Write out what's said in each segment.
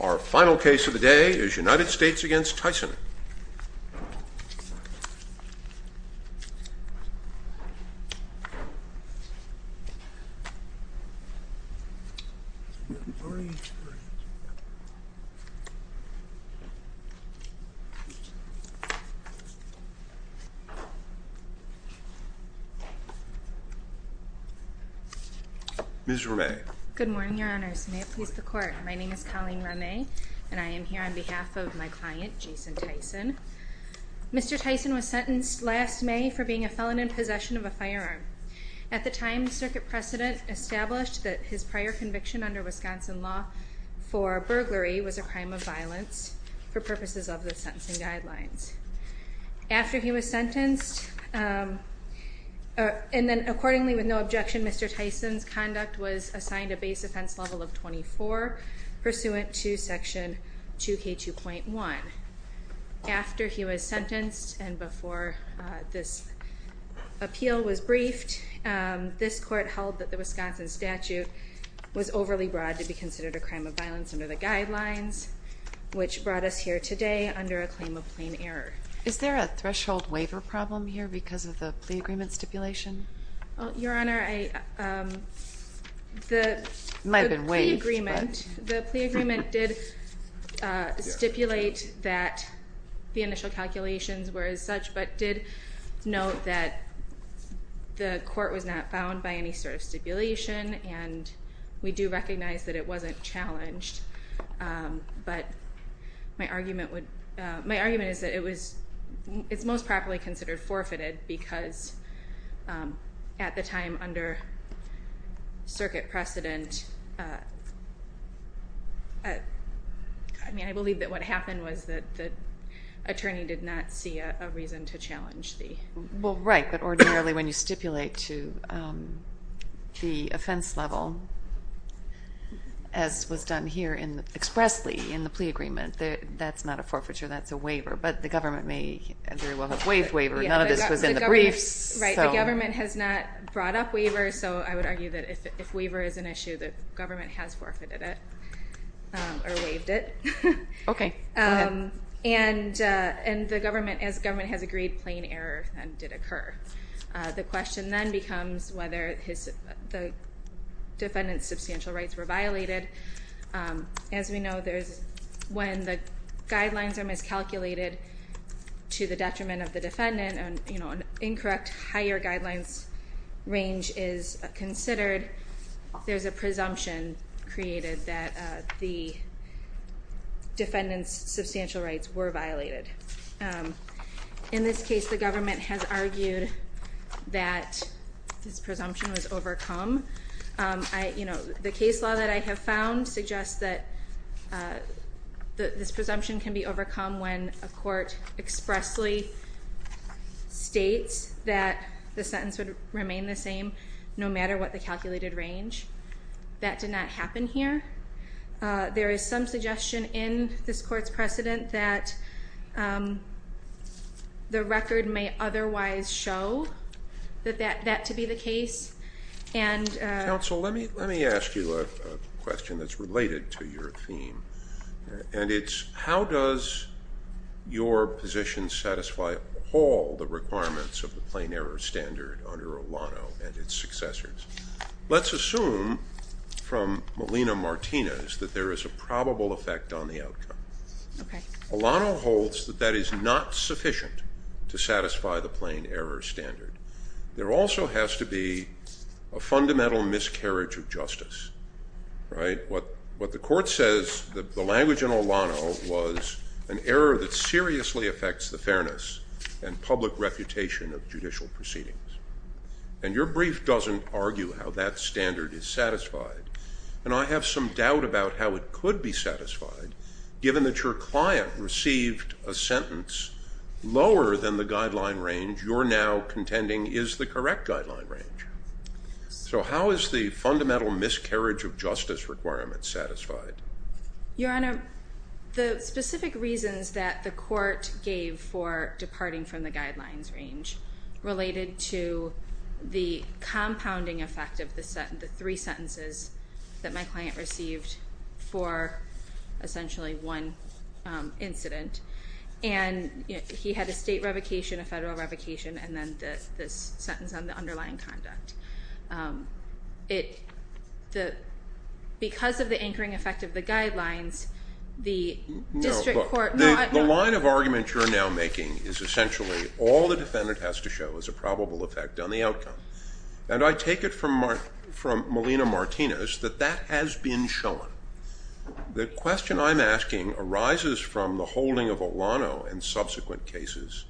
Our final case of the day is United States v. Tyson Good morning, your honors. May it please the court, my name is Colleen Ramay and I Mr. Tyson was sentenced last May for being a felon in possession of a firearm. At the time, the circuit precedent established that his prior conviction under Wisconsin law for burglary was a crime of violence for purposes of the sentencing guidelines. After he was sentenced, and then accordingly with no objection, Mr. Tyson's conduct was assigned a base offense level of 24 pursuant to section 2K2.1. After he was sentenced, and before this appeal was briefed, this court held that the Wisconsin statute was overly broad to be considered a crime of violence under the guidelines, which brought us here today under a claim of plain error. Is there a threshold waiver problem here because of the plea agreement stipulation? Your honor, the plea agreement did stipulate that the initial calculations were as such, but did note that the court was not bound by any sort of stipulation and we do recognize that it wasn't challenged. But my argument is that it's most properly considered forfeited because at the time under circuit precedent, I mean, I believe that what happened was that the attorney did not see a reason to challenge the... Well, right, but ordinarily when you stipulate to the offense level, as was done here expressly in the plea agreement, that's not a forfeiture, that's a waiver. But the government may very Right, the government has not brought up waivers, so I would argue that if waiver is an issue, the government has forfeited it, or waived it. Okay, go ahead. And the government, as government has agreed, plain error then did occur. The question then becomes whether the defendant's substantial rights were violated. As we know, when the guidelines are miscalculated to the detriment of the defendant, an incorrect higher guidelines range is considered, there's a presumption created that the defendant's substantial rights were violated. In this case, the government has argued that this presumption was overcome. The case law that I have found suggests that this presumption can be overcome when a court expressly states that the sentence would remain the same no matter what the calculated range. That did not happen here. There is some suggestion in this court's precedent that the record may otherwise show that that to be the case. Counsel, let me ask you a question that's related to your theme. And it's how does your position satisfy all the requirements of the plain error standard under Olano and its successors? Let's assume from Molina-Martinez that there is a probable effect on the outcome. Olano holds that that is not sufficient to satisfy the plain error standard. There also has to be a fundamental miscarriage of justice. What the court says, the language in Olano was an error that seriously affects the fairness and public reputation of judicial proceedings. And your brief doesn't argue how that standard is satisfied. And I have some doubt about how it could be satisfied, given that your client received a sentence lower than the guideline range you're now contending is the correct guideline range. So how is the fundamental miscarriage of justice requirement satisfied? Your Honor, the specific reasons that the court gave for departing from the guidelines range related to the compounding effect of the three sentences that my client received for essentially one incident. And he had a state revocation, a federal revocation, and then this sentence on the underlying conduct. Because of the anchoring effect of the guidelines, the district court... The line of argument you're now making is essentially all the defendant has to show is a probable effect on the outcome. And I take it from Molina-Martinez that that has been shown. The question I'm asking arises from the holding of Olano in subsequent cases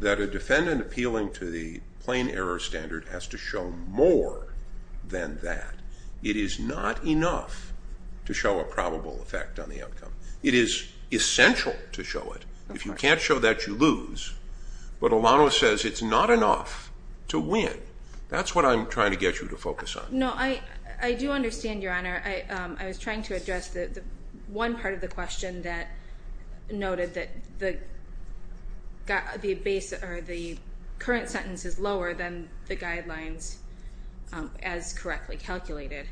that a defendant appealing to the plain error standard has to show more than that. It is not enough to show a probable effect on the outcome. It is essential to show it. If you can't show that, you lose. But Olano says it's not enough to win. That's what I'm trying to get you to focus on. No, I do understand, Your Honor. I was trying to address one part of the question that noted that the current sentence is lower than the guidelines as correctly calculated.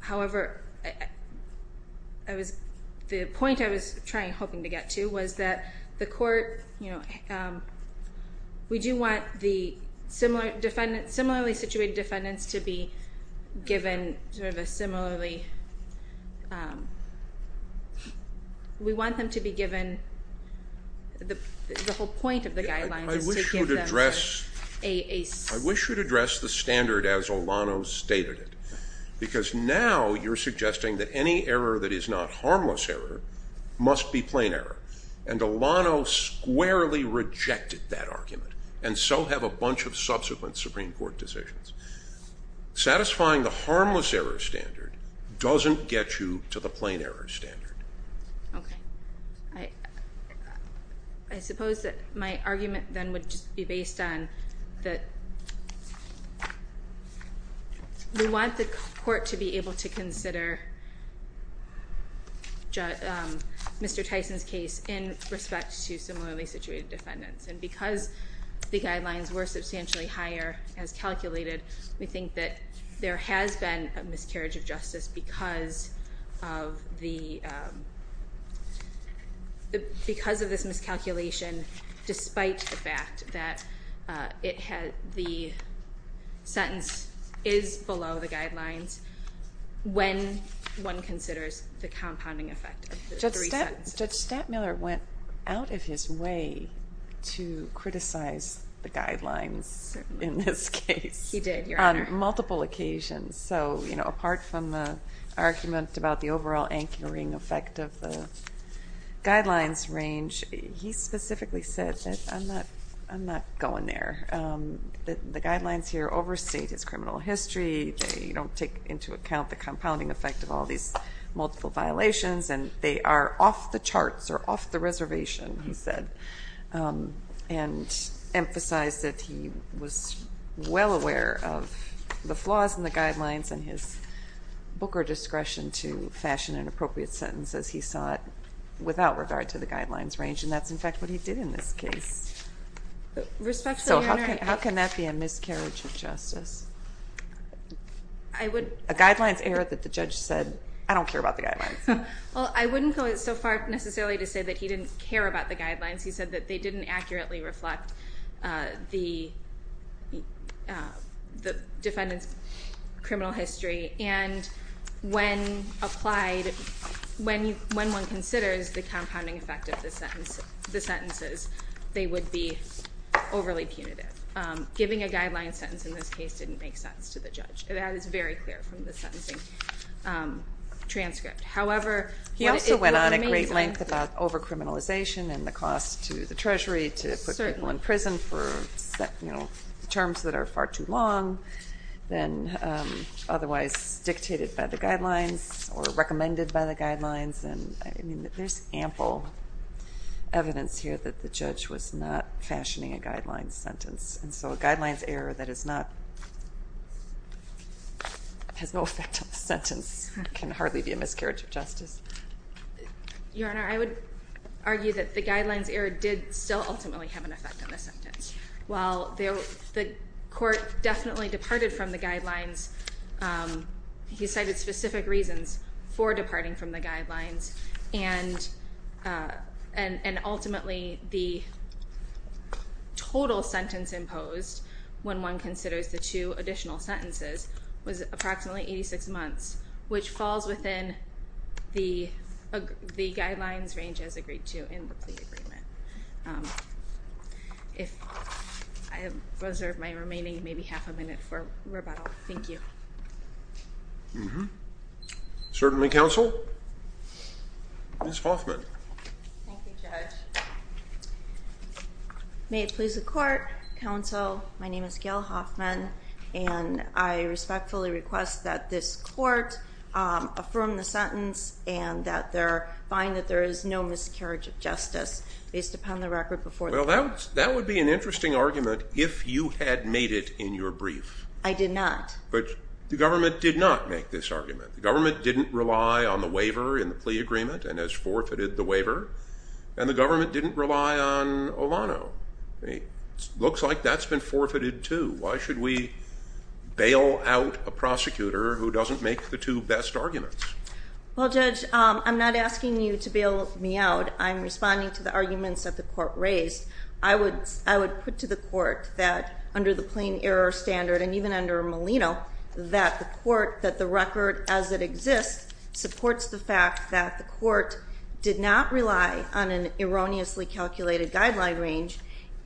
However, the point I was hoping to get to was that the court... We want the similarly situated defendants to be given sort of a similarly... We want them to be given... The whole point of the guidelines is to give them a... I wish you'd address the standard as Olano stated it. Because now you're suggesting that any error that is not harmless error must be plain error. And Olano squarely rejected that argument. And so have a bunch of subsequent Supreme Court decisions. Satisfying the harmless error standard doesn't get you to the plain error standard. Okay. I suppose that my argument then would just be based on that... We want the court to be able to consider Mr. Tyson's case in respect to similarly situated defendants. And because the guidelines were substantially higher as calculated, we think that there has been a miscarriage of justice because of this miscalculation, despite the fact that the sentence is below the guidelines when one considers the compounding effect of the three sentences. Judge Stattmiller went out of his way to criticize the guidelines in this case. He did, Your Honor. On multiple occasions. So apart from the argument about the overall anchoring effect of the guidelines range, he specifically said that I'm not going there. The guidelines here overstate his criminal history. They don't take into account the compounding effect of all these multiple violations. And they are off the charts or off the reservation, he said. And emphasized that he was well aware of the flaws in the guidelines and his booker discretion to fashion an appropriate sentence as he saw it without regard to the guidelines range. And that's, in fact, what he did in this case. Respectfully, Your Honor. A guidelines error that the judge said, I don't care about the guidelines. Well, I wouldn't go so far necessarily to say that he didn't care about the guidelines. He said that they didn't accurately reflect the defendant's criminal history. And when applied, when one considers the compounding effect of the sentences, they would be overly punitive. Giving a guidelines sentence in this case didn't make sense to the judge. That is very clear from the sentencing transcript. However, it was amazing. He also went on a great length about over-criminalization and the cost to the Treasury to put people in prison for terms that are far too long than otherwise dictated by the guidelines or recommended by the guidelines. There's ample evidence here that the judge was not fashioning a guidelines sentence. And so a guidelines error that has no effect on the sentence can hardly be a miscarriage of justice. Your Honor, I would argue that the guidelines error did still ultimately have an effect on the sentence. While the court definitely departed from the guidelines, he cited specific reasons for departing from the guidelines, and ultimately the total sentence imposed when one considers the two additional sentences was approximately 86 months, which falls within the guidelines range as agreed to in the plea agreement. If I reserve my remaining maybe half a minute for rebuttal, thank you. Certainly, counsel. Ms. Hoffman. Thank you, Judge. May it please the court, counsel, my name is Gail Hoffman, and I respectfully request that this court affirm the sentence and find that there is no miscarriage of justice based upon the record before the court. Well, that would be an interesting argument if you had made it in your brief. I did not. But the government did not make this argument. The government didn't rely on the waiver in the plea agreement and has forfeited the waiver. And the government didn't rely on Olano. It looks like that's been forfeited too. Why should we bail out a prosecutor who doesn't make the two best arguments? Well, Judge, I'm not asking you to bail me out. I'm responding to the arguments that the court raised. I would put to the court that under the plain error standard, and even under Molino, that the record as it exists supports the fact that the court did not rely on an erroneously calculated guideline range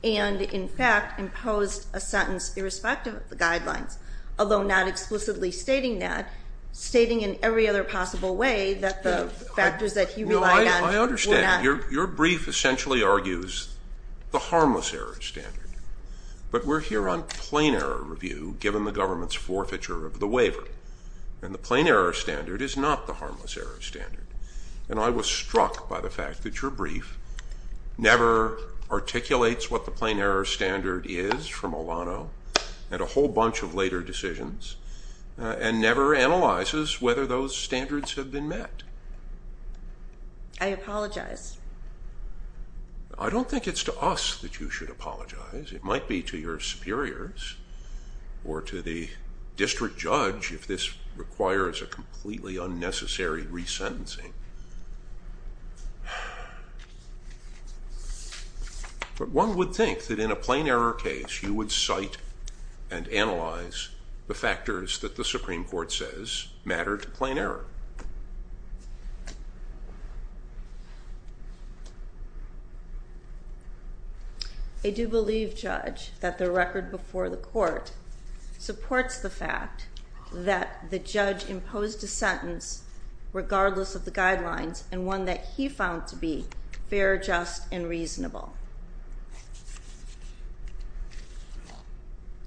and, in fact, imposed a sentence irrespective of the guidelines, although not explicitly stating that, stating in every other possible way that the factors that he relied on were not. I understand. Your brief essentially argues the harmless error standard. But we're here on plain error review given the government's forfeiture of the waiver, and the plain error standard is not the harmless error standard. And I was struck by the fact that your brief never articulates what the plain error standard is from Olano and a whole bunch of later decisions, and never analyzes whether those standards have been met. I apologize. I don't think it's to us that you should apologize. It might be to your superiors or to the district judge if this requires a completely unnecessary resentencing. But one would think that in a plain error case you would cite and analyze the factors that the Supreme Court says matter to plain error. I do believe, Judge, that the record before the court supports the fact that the judge imposed a sentence regardless of the guidelines and one that he found to be fair, just, and reasonable.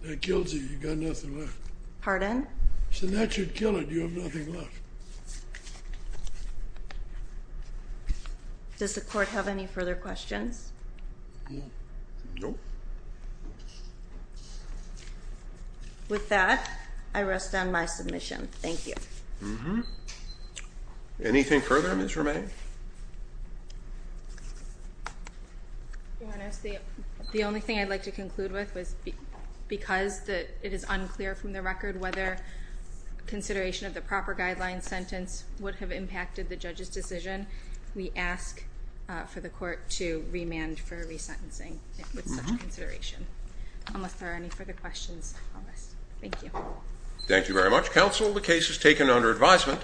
That kills you. You've got nothing left. Pardon? I said that should kill it. You have nothing left. Does the court have any further questions? No. Nope. With that, I rest on my submission. Thank you. Mm-hmm. Anything further, Ms. Romain? Your Honor, the only thing I'd like to conclude with was because it is unclear from the record whether consideration of the proper guidelines sentence would have impacted the judge's decision, we ask for the court to remand for resentencing with such consideration. Unless there are any further questions, I'll rest. Thank you. Thank you very much, counsel. The case is taken under advisement.